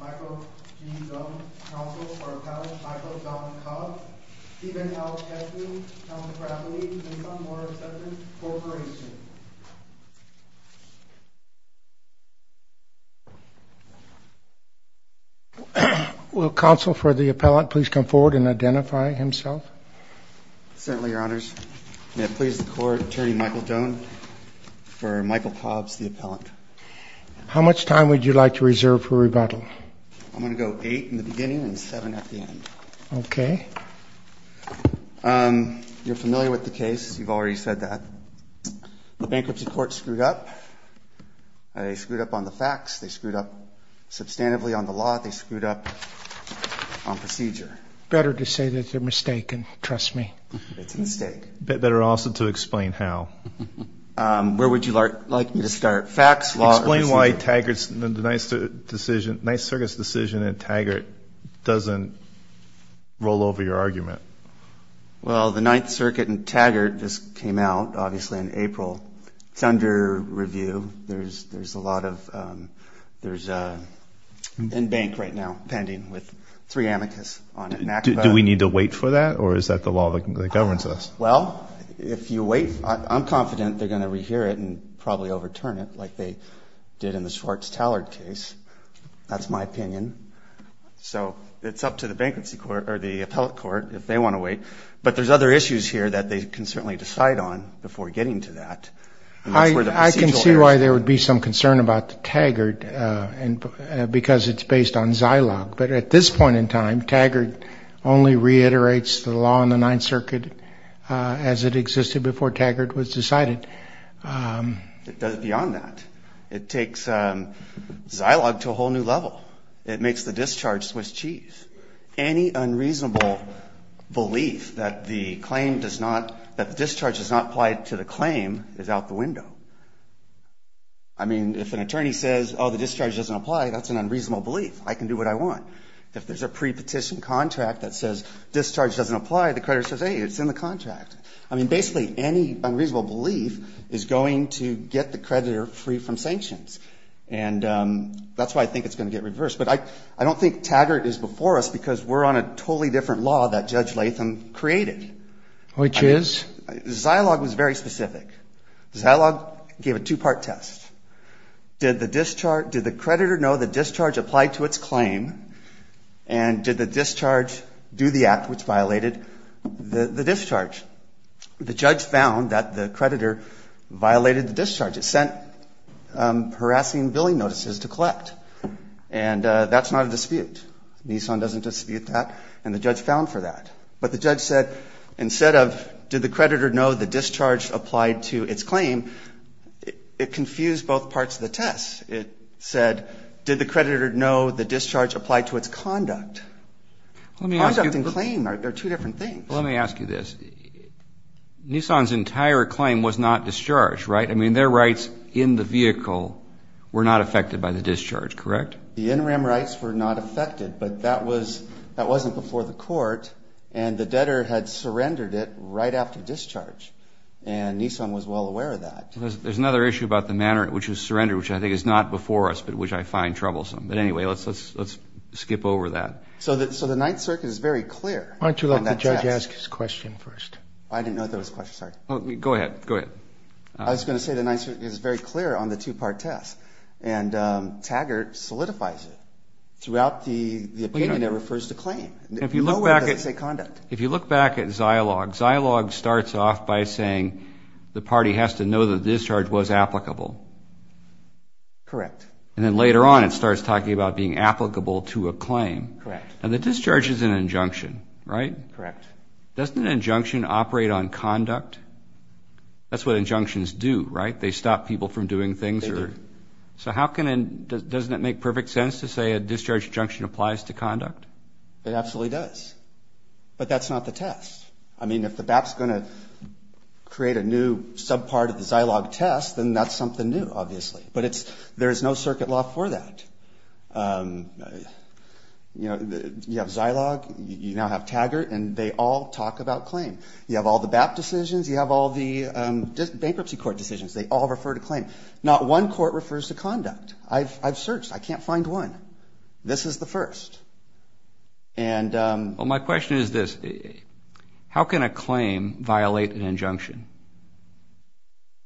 Michael G. Doane, Counsel for Appellant Michael Don Cobb, Stephen L. Tesley, Council for Acquaintances and some more acceptance, Corporation. Will Counsel for the Appellant please come forward and identify himself. Certainly, Your Honors. May it please the Court, Attorney Michael Doane, for Michael Cobbs, the Appellant. How much time would you like to reserve for rebuttal? I'm going to go eight in the beginning and seven at the end. Okay. You're familiar with the case. You've already said that. The bankruptcy court screwed up. They screwed up on the facts, they screwed up substantively on the law, they screwed up on procedure. Better to say that it's a mistake and trust me. It's a mistake. Better also to explain how. Where would you like me to start? Facts, law, or procedure? Explain why Taggart's, the Ninth Circuit's decision in Taggart doesn't roll over your argument. Well, the Ninth Circuit in Taggart just came out, obviously, in April. It's under review. There's a lot of, there's in bank right now, pending, with three amicus on it. Do we need to wait for that? Or is that the law that governs us? Well, if you wait, I'm confident they're going to rehear it and probably overturn it like they did in the Schwartz-Tallard case. That's my opinion. So it's up to the bankruptcy court, or the appellate court, if they want to wait. But there's other issues here that they can certainly decide on before getting to that. I can see why there would be some concern about Taggart, because it's based on Zilog. But at this point in time, Taggart only reiterates the law in the Ninth Circuit as it existed before Taggart was decided. It does it beyond that. It takes Zilog to a whole new level. It makes the discharge Swiss cheese. Any unreasonable belief that the claim does not, that the discharge does not apply to the claim is out the window. I mean, if an attorney says, oh, the discharge doesn't apply, that's an unreasonable belief. I can do what I want. If there's a pre-petition contract that says discharge doesn't apply, the creditor says, hey, it's in the contract. I mean, basically, any unreasonable belief is going to get the creditor free from sanctions. And that's why I think it's going to get reversed. But I don't think Taggart is before us because we're on a totally different law that Judge Latham created. Which is? Zilog was very specific. Zilog gave a two-part test. Did the discharge, did the creditor know the discharge applied to its claim? And did the discharge do the act which violated the discharge? The judge found that the creditor violated the discharge. It sent harassing billing notices to collect. And that's not a dispute. Nissan doesn't dispute that. And the judge found for that. But the judge said, instead of, did the creditor know the discharge applied to its claim? And it confused both parts of the test. It said, did the creditor know the discharge applied to its conduct? Conduct and claim are two different things. Well, let me ask you this. Nissan's entire claim was not discharged, right? I mean, their rights in the vehicle were not affected by the discharge, correct? The interim rights were not affected. But that wasn't before the court. And the debtor had surrendered it right after discharge. And Nissan was well aware of that. There's another issue about the manner in which it was surrendered, which I think is not before us, but which I find troublesome. But anyway, let's skip over that. So the Ninth Circuit is very clear on that test. Why don't you let the judge ask his question first? I didn't know if there was a question, sorry. Go ahead, go ahead. I was going to say the Ninth Circuit is very clear on the two-part test. And Taggart solidifies it. Throughout the opinion, it refers to claim. If you look back at- No word that doesn't say conduct. If you look back at Zilog, Zilog starts off by saying the party has to know that the discharge was applicable. Correct. And then later on, it starts talking about being applicable to a claim. Correct. Now, the discharge is an injunction, right? Correct. Doesn't an injunction operate on conduct? That's what injunctions do, right? They stop people from doing things. They do. So how can- doesn't it make perfect sense to say a discharge injunction applies to conduct? It absolutely does. But that's not the test. I mean, if the BAP's going to create a new subpart of the Zilog test, then that's something new, obviously. But it's- there's no circuit law for that. You know, you have Zilog, you now have Taggart, and they all talk about claim. You have all the BAP decisions, you have all the bankruptcy court decisions. They all refer to claim. Not one court refers to conduct. I've searched. I can't find one. This is the first. And- Well, my question is this. How can a claim violate an injunction?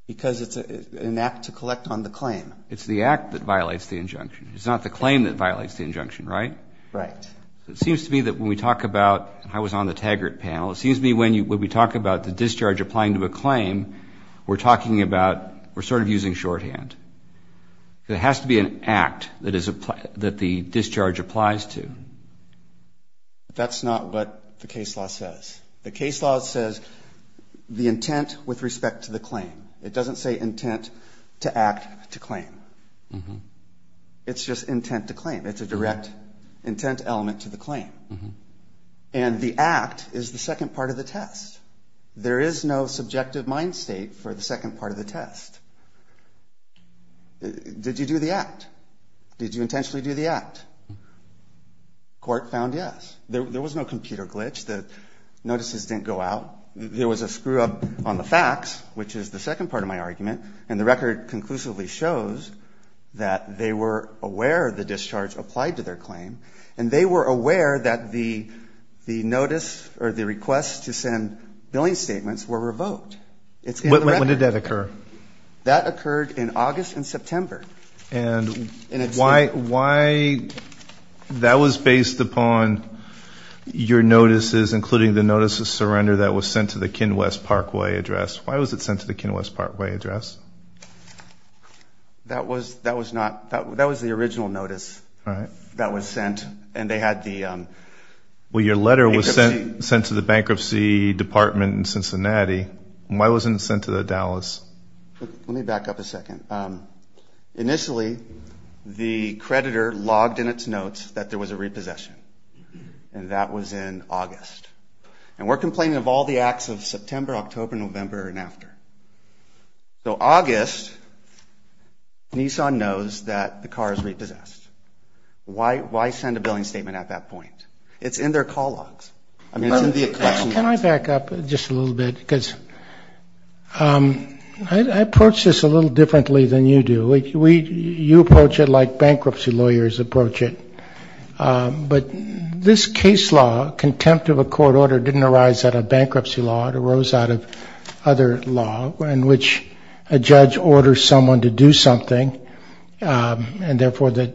Because it's an act to collect on the claim. It's the act that violates the injunction. It's not the claim that violates the injunction, right? Right. It seems to me that when we talk about- I was on the Taggart panel. It seems to me when we talk about the discharge applying to a claim, we're talking about- we're sort of using shorthand. There has to be an act that is- that the discharge applies to. That's not what the case law says. The case law says the intent with respect to the claim. It doesn't say intent to act to claim. It's just intent to claim. It's a direct intent element to the claim. And the act is the second part of the test. There is no subjective mind state for the second part of the test. Did you do the act? Did you intentionally do the act? Court found yes. There was no computer glitch. The notices didn't go out. There was a screw-up on the facts, which is the second part of my argument. And the record conclusively shows that they were aware the discharge applied to their claim. And they were aware that the notice or the request to send billing statements were revoked. When did that occur? That occurred in August and September. And why- that was based upon your notices, including the notice of surrender that was sent to the Kinwes Parkway address. Why was it sent to the Kinwes Parkway address? That was not- that was the original notice that was sent, and they had the- Why wasn't it sent to the Dallas? Let me back up a second. Initially, the creditor logged in its notes that there was a repossession, and that was in August. And we're complaining of all the acts of September, October, November, and after. So August, Nissan knows that the car is repossessed. Why send a billing statement at that point? It's in their call logs. Can I back up just a little bit? Because I approach this a little differently than you do. You approach it like bankruptcy lawyers approach it. But this case law, contempt of a court order, didn't arise out of bankruptcy law. It arose out of other law in which a judge orders someone to do something, and therefore the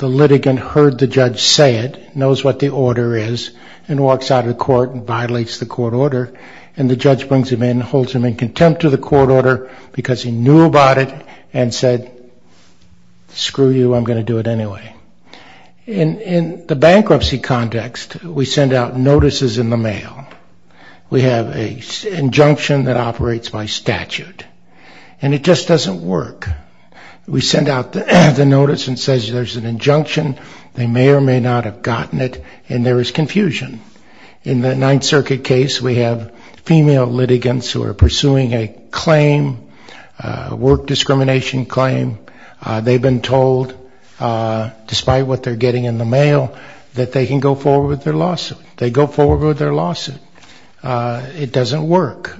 litigant heard the judge say it, knows what the order is, and walks out of the court and violates the court order. And the judge brings him in, holds him in contempt of the court order, because he knew about it, and said, screw you, I'm going to do it anyway. In the bankruptcy context, we send out notices in the mail. We have an injunction that operates by statute. And it just doesn't work. We send out the notice and it says there's an injunction, they may or may not have gotten it, and there is confusion. In the Ninth Circuit case, we have female litigants who are pursuing a claim, a work discrimination claim. They've been told, despite what they're getting in the mail, that they can go forward with their lawsuit. They go forward with their lawsuit. It doesn't work.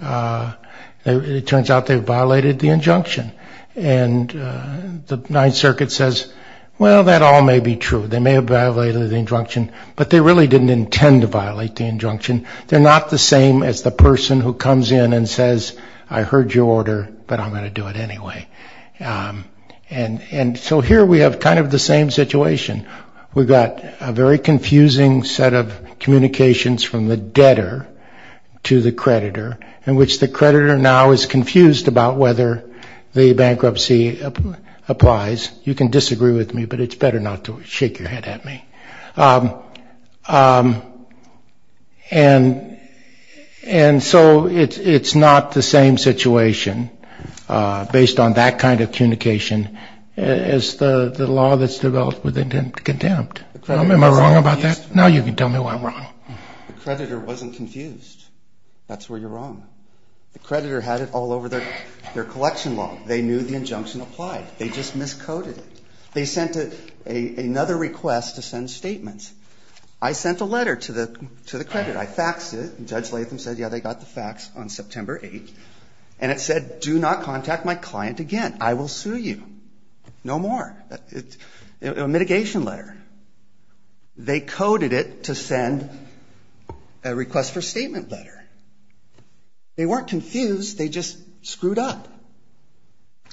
It turns out they violated the injunction. And the Ninth Circuit says, well, that all may be true. They may have violated the injunction, but they really didn't intend to violate the injunction. They're not the same as the person who comes in and says, I heard your order, but I'm going to do it anyway. And so here we have kind of the same situation. We've got a very confusing set of communications from the debtor to the creditor, in which the creditor now is confused about whether the bankruptcy applies. You can disagree with me, but it's better not to shake your head at me. And so it's not the same situation, based on that kind of communication, as the law that's developed with contempt. Am I wrong about that? Now you can tell me why I'm wrong. The creditor wasn't confused. That's where you're wrong. The creditor had it all over their collection log. They knew the injunction applied. They just miscoded it. They sent another request to send statements. I sent a letter to the creditor. I faxed it, and Judge Latham said, yeah, they got the fax on September 8th. And it said, do not contact my client again. I will sue you. No more. A mitigation letter. They coded it to send a request for statement letter. They weren't confused. They just screwed up.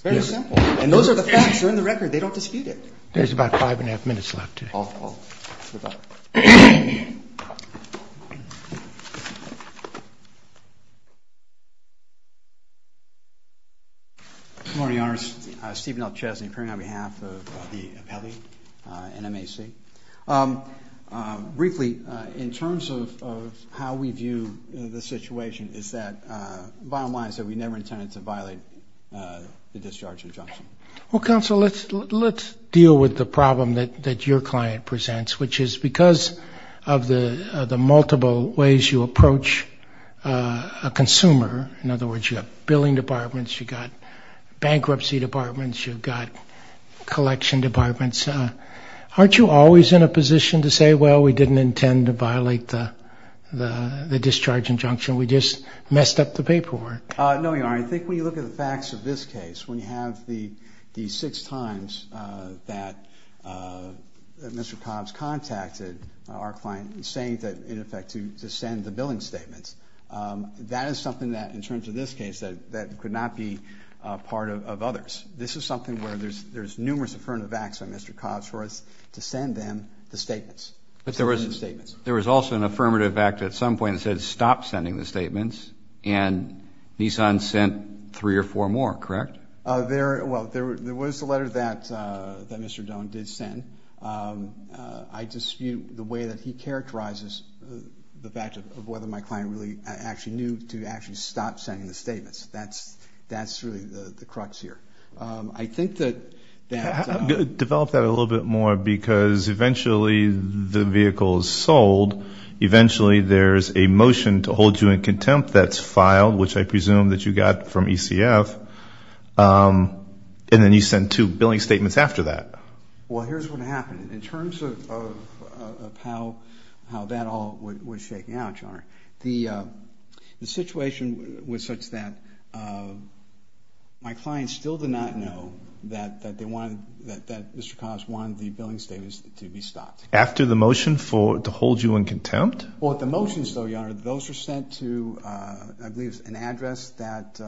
Very simple. And those are the facts. They're in the record. They don't dispute it. There's about five and a half minutes left. All. Good luck. Good morning, Your Honors. Stephen L. Chesney, appearing on behalf of the appellee, NMAC. Briefly, in terms of how we view the situation is that, bottom line, is that we never intended to violate the discharge injunction. Well, counsel, let's deal with the problem that your client presents, which is because of the multiple ways you approach a consumer. In other words, you have billing departments. You've got bankruptcy departments. You've got collection departments. Aren't you always in a position to say, well, we didn't intend to violate the discharge injunction? We just messed up the paperwork. No, Your Honor. I think when you look at the facts of this case, when you have the six times that Mr. Cobbs contacted our client, saying that, in effect, to send the billing statements, that is something that, in terms of this case, that could not be part of others. This is something where there's numerous affirmative acts by Mr. Cobbs for us to send them the statements. But there was also an affirmative act at some point that said, stop sending the statements, and Nissan sent three or four more, correct? Well, there was the letter that Mr. Doan did send. I dispute the way that he characterizes the fact of whether my client really actually knew to actually stop sending the statements. That's really the crux here. I think that that's… Develop that a little bit more because eventually the vehicle is sold. Eventually there's a motion to hold you in contempt that's filed, which I presume that you got from ECF, and then you send two billing statements after that. Well, here's what happened. In terms of how that all was shaking out, Your Honor, the situation was such that my client still did not know that Mr. Cobbs wanted the billing statements to be stopped. After the motion to hold you in contempt? Well, the motions, Your Honor, those were sent to, I believe, an address that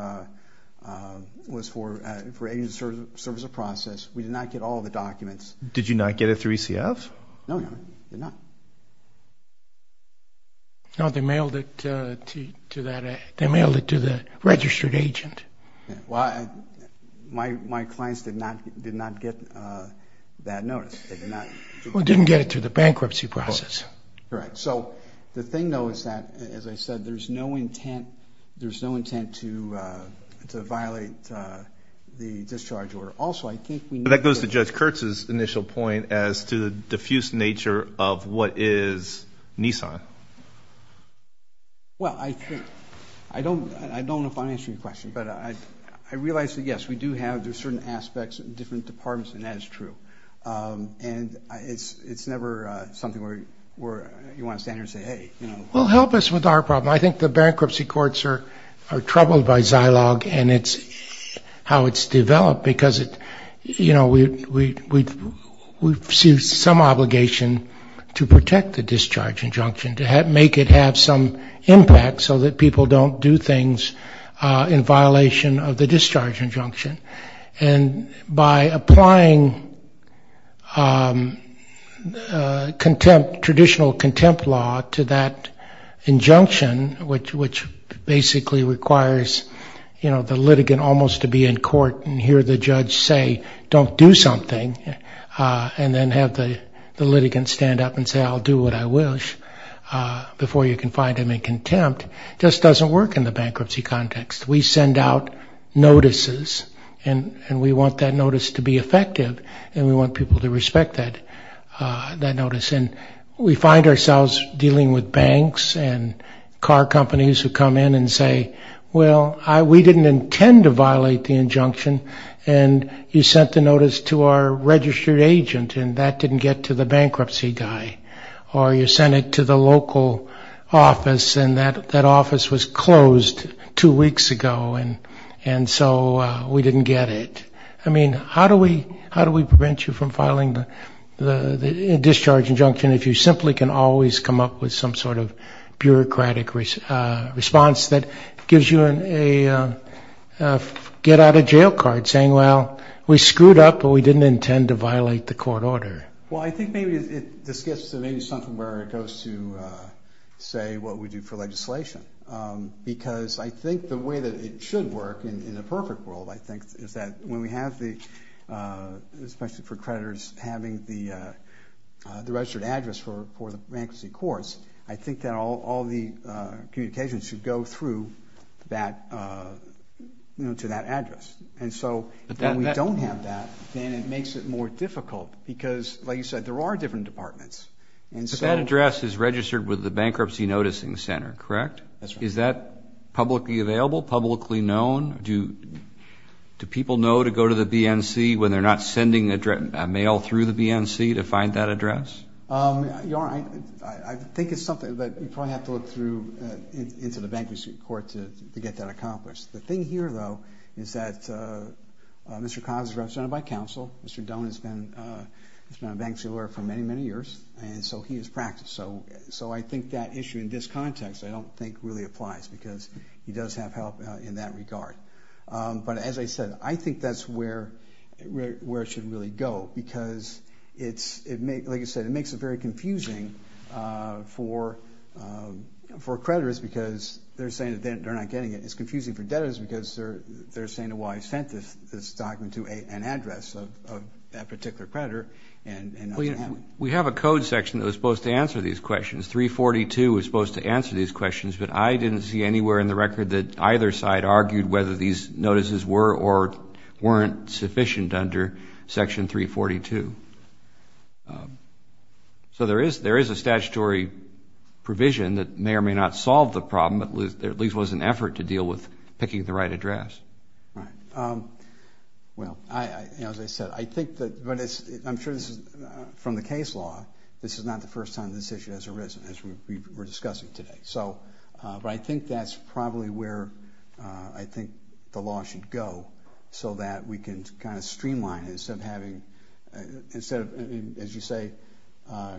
was for agents in the service of process. We did not get all of the documents. Did you not get it through ECF? No, Your Honor, we did not. No, they mailed it to the registered agent. Well, my clients did not get that notice. They did not. Well, they didn't get it through the bankruptcy process. Correct. So the thing, though, is that, as I said, there's no intent to violate the discharge order. But that goes to Judge Kurtz's initial point as to the diffuse nature of what is Nissan. Well, I don't know if I'm answering your question, but I realize that, yes, we do have certain aspects in different departments, and that is true. And it's never something where you want to stand there and say, hey, you know. Well, help us with our problem. I think the bankruptcy courts are troubled by Zilog and how it's developed because we see some obligation to protect the discharge injunction, to make it have some impact so that people don't do things in violation of the discharge injunction. which basically requires the litigant almost to be in court and hear the judge say, don't do something, and then have the litigant stand up and say, I'll do what I wish before you can find him in contempt, just doesn't work in the bankruptcy context. We send out notices, and we want that notice to be effective, and we want people to respect that notice. And we find ourselves dealing with banks and car companies who come in and say, well, we didn't intend to violate the injunction, and you sent the notice to our registered agent, and that didn't get to the bankruptcy guy. Or you sent it to the local office, and that office was closed two weeks ago, and so we didn't get it. I mean, how do we prevent you from filing the discharge injunction if you simply can always come up with some sort of bureaucratic response that gives you a get-out-of-jail card, saying, well, we screwed up, but we didn't intend to violate the court order? Well, I think maybe this gets to maybe something where it goes to, say, what we do for legislation. Because I think the way that it should work in a perfect world, I think, is that when we have the, especially for creditors, having the registered address for the bankruptcy courts, I think that all the communications should go through to that address. And so when we don't have that, then it makes it more difficult because, like you said, there are different departments. But that address is registered with the Bankruptcy Noticing Center, correct? That's right. Is that publicly available, publicly known? Do people know to go to the BNC when they're not sending a mail through the BNC to find that address? I think it's something that we probably have to look through into the bankruptcy court to get that accomplished. The thing here, though, is that Mr. Cobb is represented by counsel. Mr. Doan has been a bankruptcy lawyer for many, many years, and so he has practiced. So I think that issue in this context I don't think really applies because he does have help in that regard. But as I said, I think that's where it should really go because, like I said, it makes it very confusing for creditors because they're saying that they're not getting it. It's confusing for debtors because they're saying, well, I sent this document to an address of that particular creditor. We have a code section that was supposed to answer these questions. 342 was supposed to answer these questions, but I didn't see anywhere in the record that either side argued whether these notices were or weren't sufficient under Section 342. So there is a statutory provision that may or may not solve the problem, but there at least was an effort to deal with picking the right address. Well, as I said, I'm sure this is from the case law. This is not the first time this issue has arisen, as we were discussing today. But I think that's probably where I think the law should go so that we can kind of streamline it instead of having, as you say,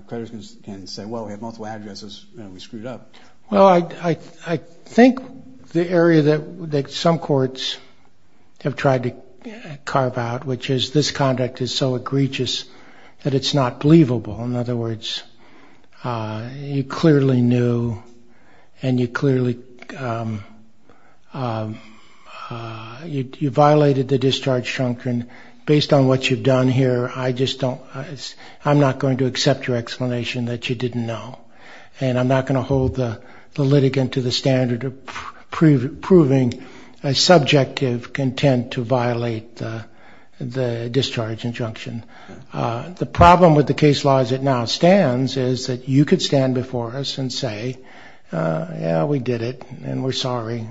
creditors can say, well, we have multiple addresses and we screwed up. Well, I think the area that some courts have tried to carve out, which is this conduct is so egregious that it's not believable. In other words, you clearly knew and you clearly violated the discharge injunction. Based on what you've done here, I just don't, I'm not going to accept your explanation that you didn't know. And I'm not going to hold the litigant to the standard of proving a subjective content to violate the discharge injunction. The problem with the case law as it now stands is that you could stand before us and say, yeah, we did it and we're sorry.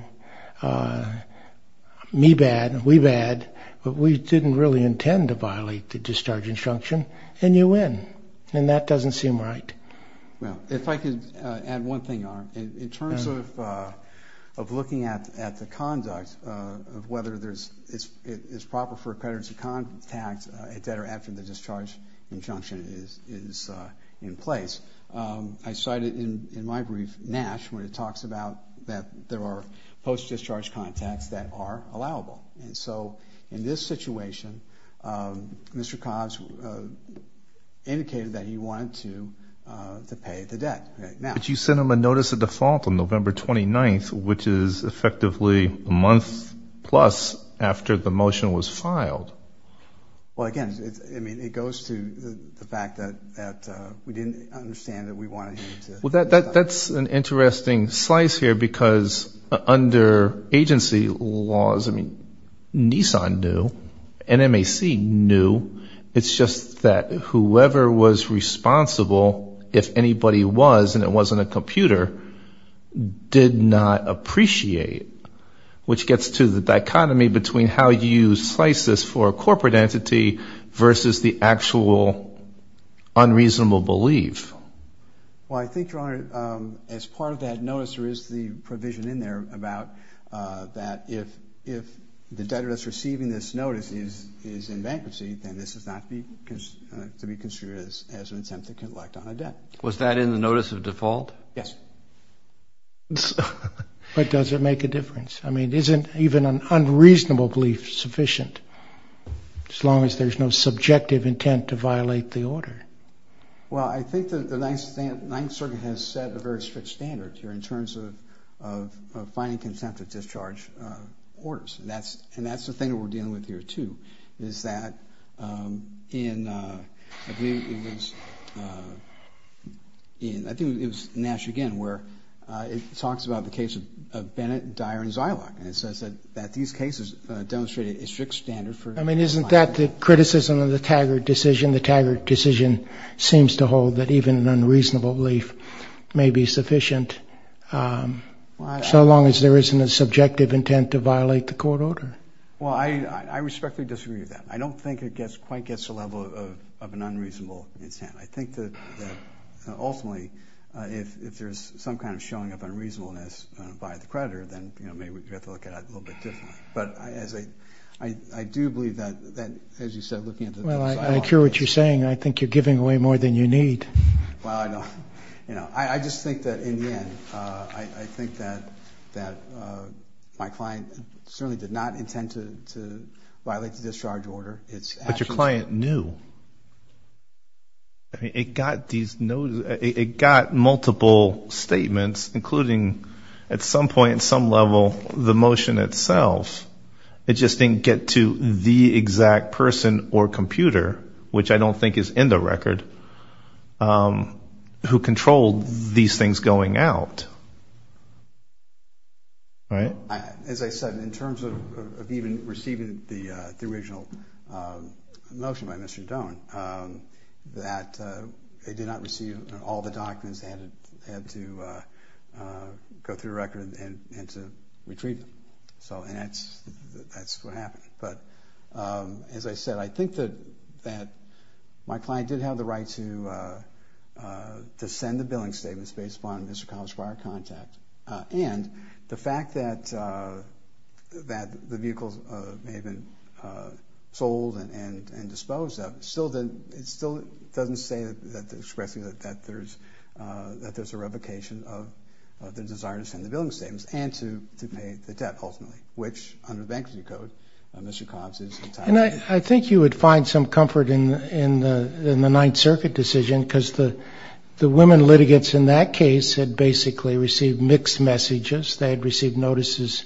Me bad, we bad, but we didn't really intend to violate the discharge injunction. And you win. And that doesn't seem right. Well, if I could add one thing on. In terms of looking at the conduct of whether it's proper for a creditor to contact a debtor after the discharge injunction is in place, I cited in my brief Nash when it talks about that there are post-discharge contacts that are allowable. And so in this situation, Mr. Cobbs indicated that he wanted to pay the debt. But you sent him a notice of default on November 29th, which is effectively a month plus after the motion was filed. Well, again, it goes to the fact that we didn't understand that we wanted him to. Well, that's an interesting slice here because under agency laws, I mean, Nissan knew, NMAC knew. It's just that whoever was responsible, if anybody was and it wasn't a computer, did not appreciate, which gets to the dichotomy between how you slice this for a corporate entity versus the actual unreasonable belief. Well, I think, Your Honor, as part of that notice, there is the provision in there about that if the debtor that's receiving this notice is in bankruptcy, then this is not to be considered as an attempt to collect on a debt. Was that in the notice of default? Yes. But does it make a difference? I mean, isn't even an unreasonable belief sufficient as long as there's no subjective intent to violate the order? Well, I think the Ninth Circuit has set a very strict standard here in terms of finding consensual discharge orders. And that's the thing that we're dealing with here, too, is that in, I believe it was, I think it was Nash again, where it talks about the case of Bennett, Dyer, and Zylock. And it says that these cases demonstrated a strict standard for I mean, isn't that the criticism of the Taggart decision? The Taggart decision seems to hold that even an unreasonable belief may be sufficient so long as there isn't a subjective intent to violate the court order. Well, I respectfully disagree with that. I don't think it quite gets to the level of an unreasonable intent. I think that ultimately if there's some kind of showing of unreasonableness by the creditor, then, you know, maybe we have to look at it a little bit differently. But I do believe that, as you said, looking at the Zylock case. Well, I hear what you're saying. I think you're giving away more than you need. Well, I know. You know, I just think that in the end, I think that my client certainly did not intend to violate the discharge order. But your client knew. I mean, it got multiple statements, including at some point, at some level, the motion itself. It just didn't get to the exact person or computer, which I don't think is in the record, who controlled these things going out, right? As I said, in terms of even receiving the original motion by Mr. Doan, that they did not receive all the documents. They had to go through the record and to retrieve them. And that's what happened. But as I said, I think that my client did have the right to send the billing statements based upon Mr. Collins' prior contact. And the fact that the vehicles may have been sold and disposed of still doesn't say that there's a revocation of the desire to send the billing statements and to pay the debt, ultimately, which under the Bankruptcy Code, Mr. Collins is entitled to. And I think you would find some comfort in the Ninth Circuit decision because the women litigants in that case had basically received mixed messages. They had received notices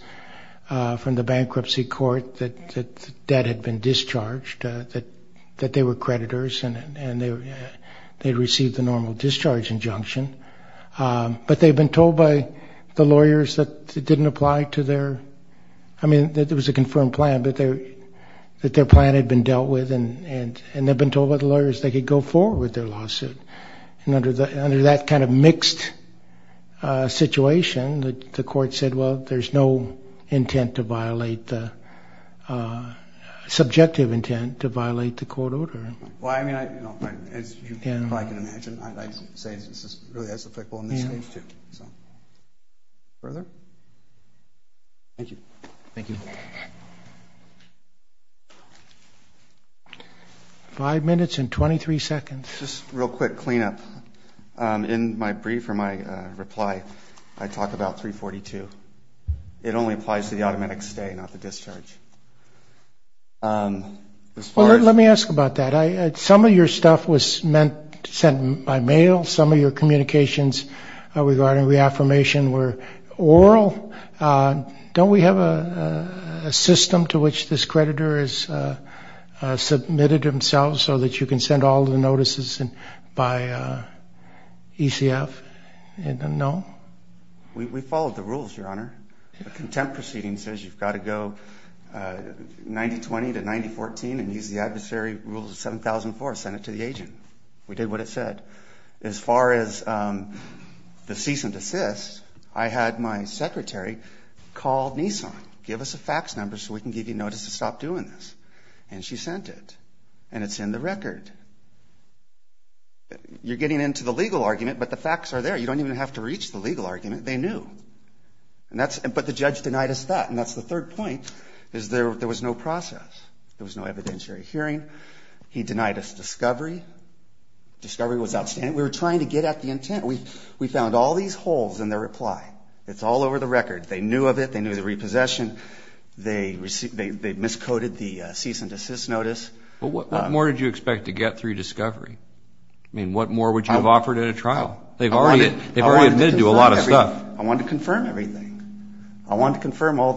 from the Bankruptcy Court that the debt had been discharged, that they were creditors, and they'd received the normal discharge injunction. But they'd been told by the lawyers that it didn't apply to their – I mean, that there was a confirmed plan, but that their plan had been dealt with, and they'd been told by the lawyers they could go forward with their lawsuit. And under that kind of mixed situation, the court said, well, there's no intent to violate the – subjective intent to violate the court order. Well, I mean, as you probably can imagine, I'd like to say this is really as effective on this case, too. Further? Thank you. Thank you. Five minutes and 23 seconds. Just a real quick cleanup. In my brief or my reply, I talk about 342. It only applies to the automatic stay, not the discharge. Let me ask about that. Some of your stuff was sent by mail. Some of your communications regarding reaffirmation were oral. Don't we have a system to which this creditor has submitted himself so that you can send all the notices by ECF? No? We followed the rules, Your Honor. The contempt proceeding says you've got to go 90-20 to 90-14 and use the adversary rules of 7004, send it to the agent. We did what it said. As far as the cease and desist, I had my secretary call Nissan, give us a fax number so we can give you notice to stop doing this, and she sent it, and it's in the record. You're getting into the legal argument, but the facts are there. You don't even have to reach the legal argument. They knew. But the judge denied us that, and that's the third point, is there was no process. There was no evidentiary hearing. He denied us discovery. Discovery was outstanding. We were trying to get at the intent. We found all these holes in their reply. It's all over the record. They knew of it. They knew the repossession. They miscoded the cease and desist notice. But what more did you expect to get through discovery? I mean, what more would you have offered at a trial? They've already admitted to a lot of stuff. I wanted to confirm everything. I wanted to confirm all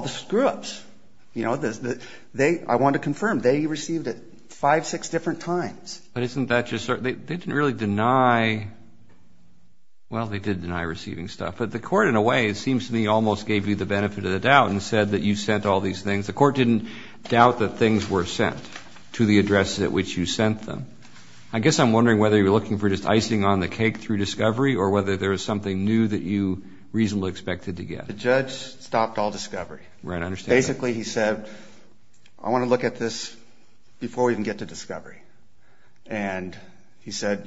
the screw-ups. I wanted to confirm. They received it five, six different times. But isn't that just sort of they didn't really deny, well, they did deny receiving stuff. But the court, in a way, it seems to me, almost gave you the benefit of the doubt and said that you sent all these things. The court didn't doubt that things were sent to the addresses at which you sent them. I guess I'm wondering whether you were looking for just icing on the cake through discovery or whether there was something new that you reasonably expected to get. The judge stopped all discovery. Basically, he said, I want to look at this before we even get to discovery. And he said,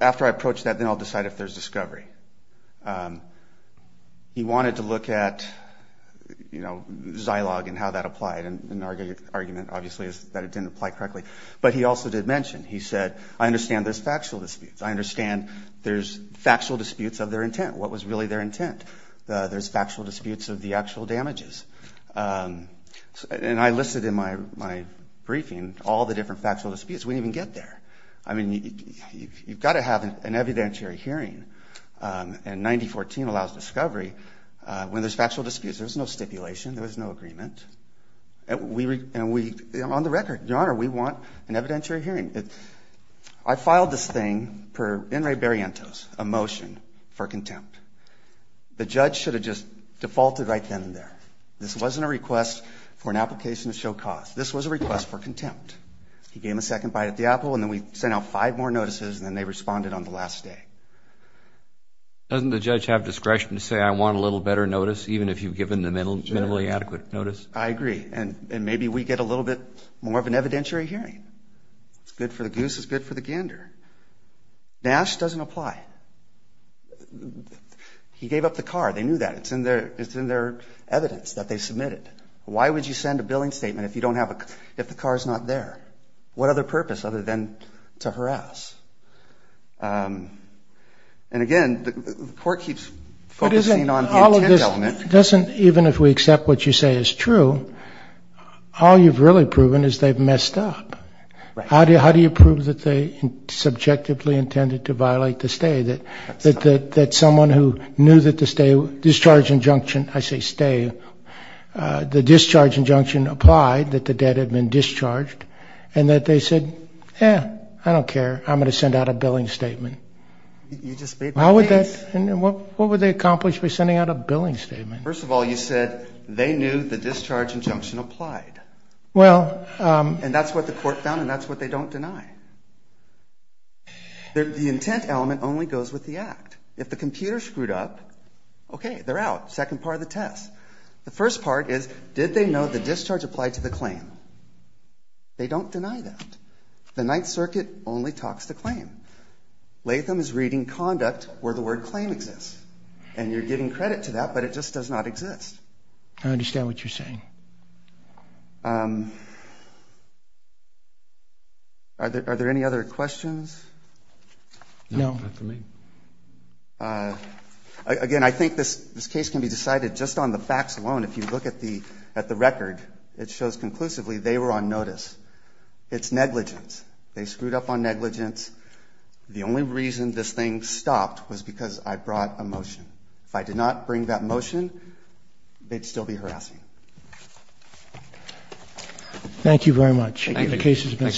after I approach that, then I'll decide if there's discovery. He wanted to look at Zilog and how that applied. And the argument, obviously, is that it didn't apply correctly. But he also did mention, he said, I understand there's factual disputes. I understand there's factual disputes of their intent. What was really their intent? There's factual disputes of the actual damages. And I listed in my briefing all the different factual disputes. We didn't even get there. I mean, you've got to have an evidentiary hearing. And 9014 allows discovery when there's factual disputes. There was no stipulation. There was no agreement. And we, on the record, Your Honor, we want an evidentiary hearing. I filed this thing per in re barrientos, a motion for contempt. The judge should have just defaulted right then and there. This wasn't a request for an application to show cause. This was a request for contempt. He gave me a second bite at the apple, and then we sent out five more notices, and then they responded on the last day. Doesn't the judge have discretion to say, I want a little better notice, even if you've given the minimally adequate notice? I agree. And maybe we get a little bit more of an evidentiary hearing. It's good for the goose. It's good for the gander. Nash doesn't apply. He gave up the car. They knew that. It's in their evidence that they submitted. Why would you send a billing statement if the car's not there? What other purpose other than to harass? And, again, the court keeps focusing on the intent element. Even if we accept what you say is true, all you've really proven is they've messed up. How do you prove that they subjectively intended to violate the stay, that someone who knew that the discharge injunction, I say stay, the discharge injunction applied, that the debt had been discharged, and that they said, yeah, I don't care, I'm going to send out a billing statement? You just made that case. What would they accomplish by sending out a billing statement? First of all, you said they knew the discharge injunction applied. And that's what the court found, and that's what they don't deny. The intent element only goes with the act. If the computer screwed up, okay, they're out, second part of the test. The first part is, did they know the discharge applied to the claim? They don't deny that. The Ninth Circuit only talks the claim. Latham is reading conduct where the word claim exists, and you're giving credit to that, but it just does not exist. I understand what you're saying. Are there any other questions? No. Again, I think this case can be decided just on the facts alone. If you look at the record, it shows conclusively they were on notice. It's negligence. They screwed up on negligence. The only reason this thing stopped was because I brought a motion. If I did not bring that motion, they'd still be harassing. Thank you very much.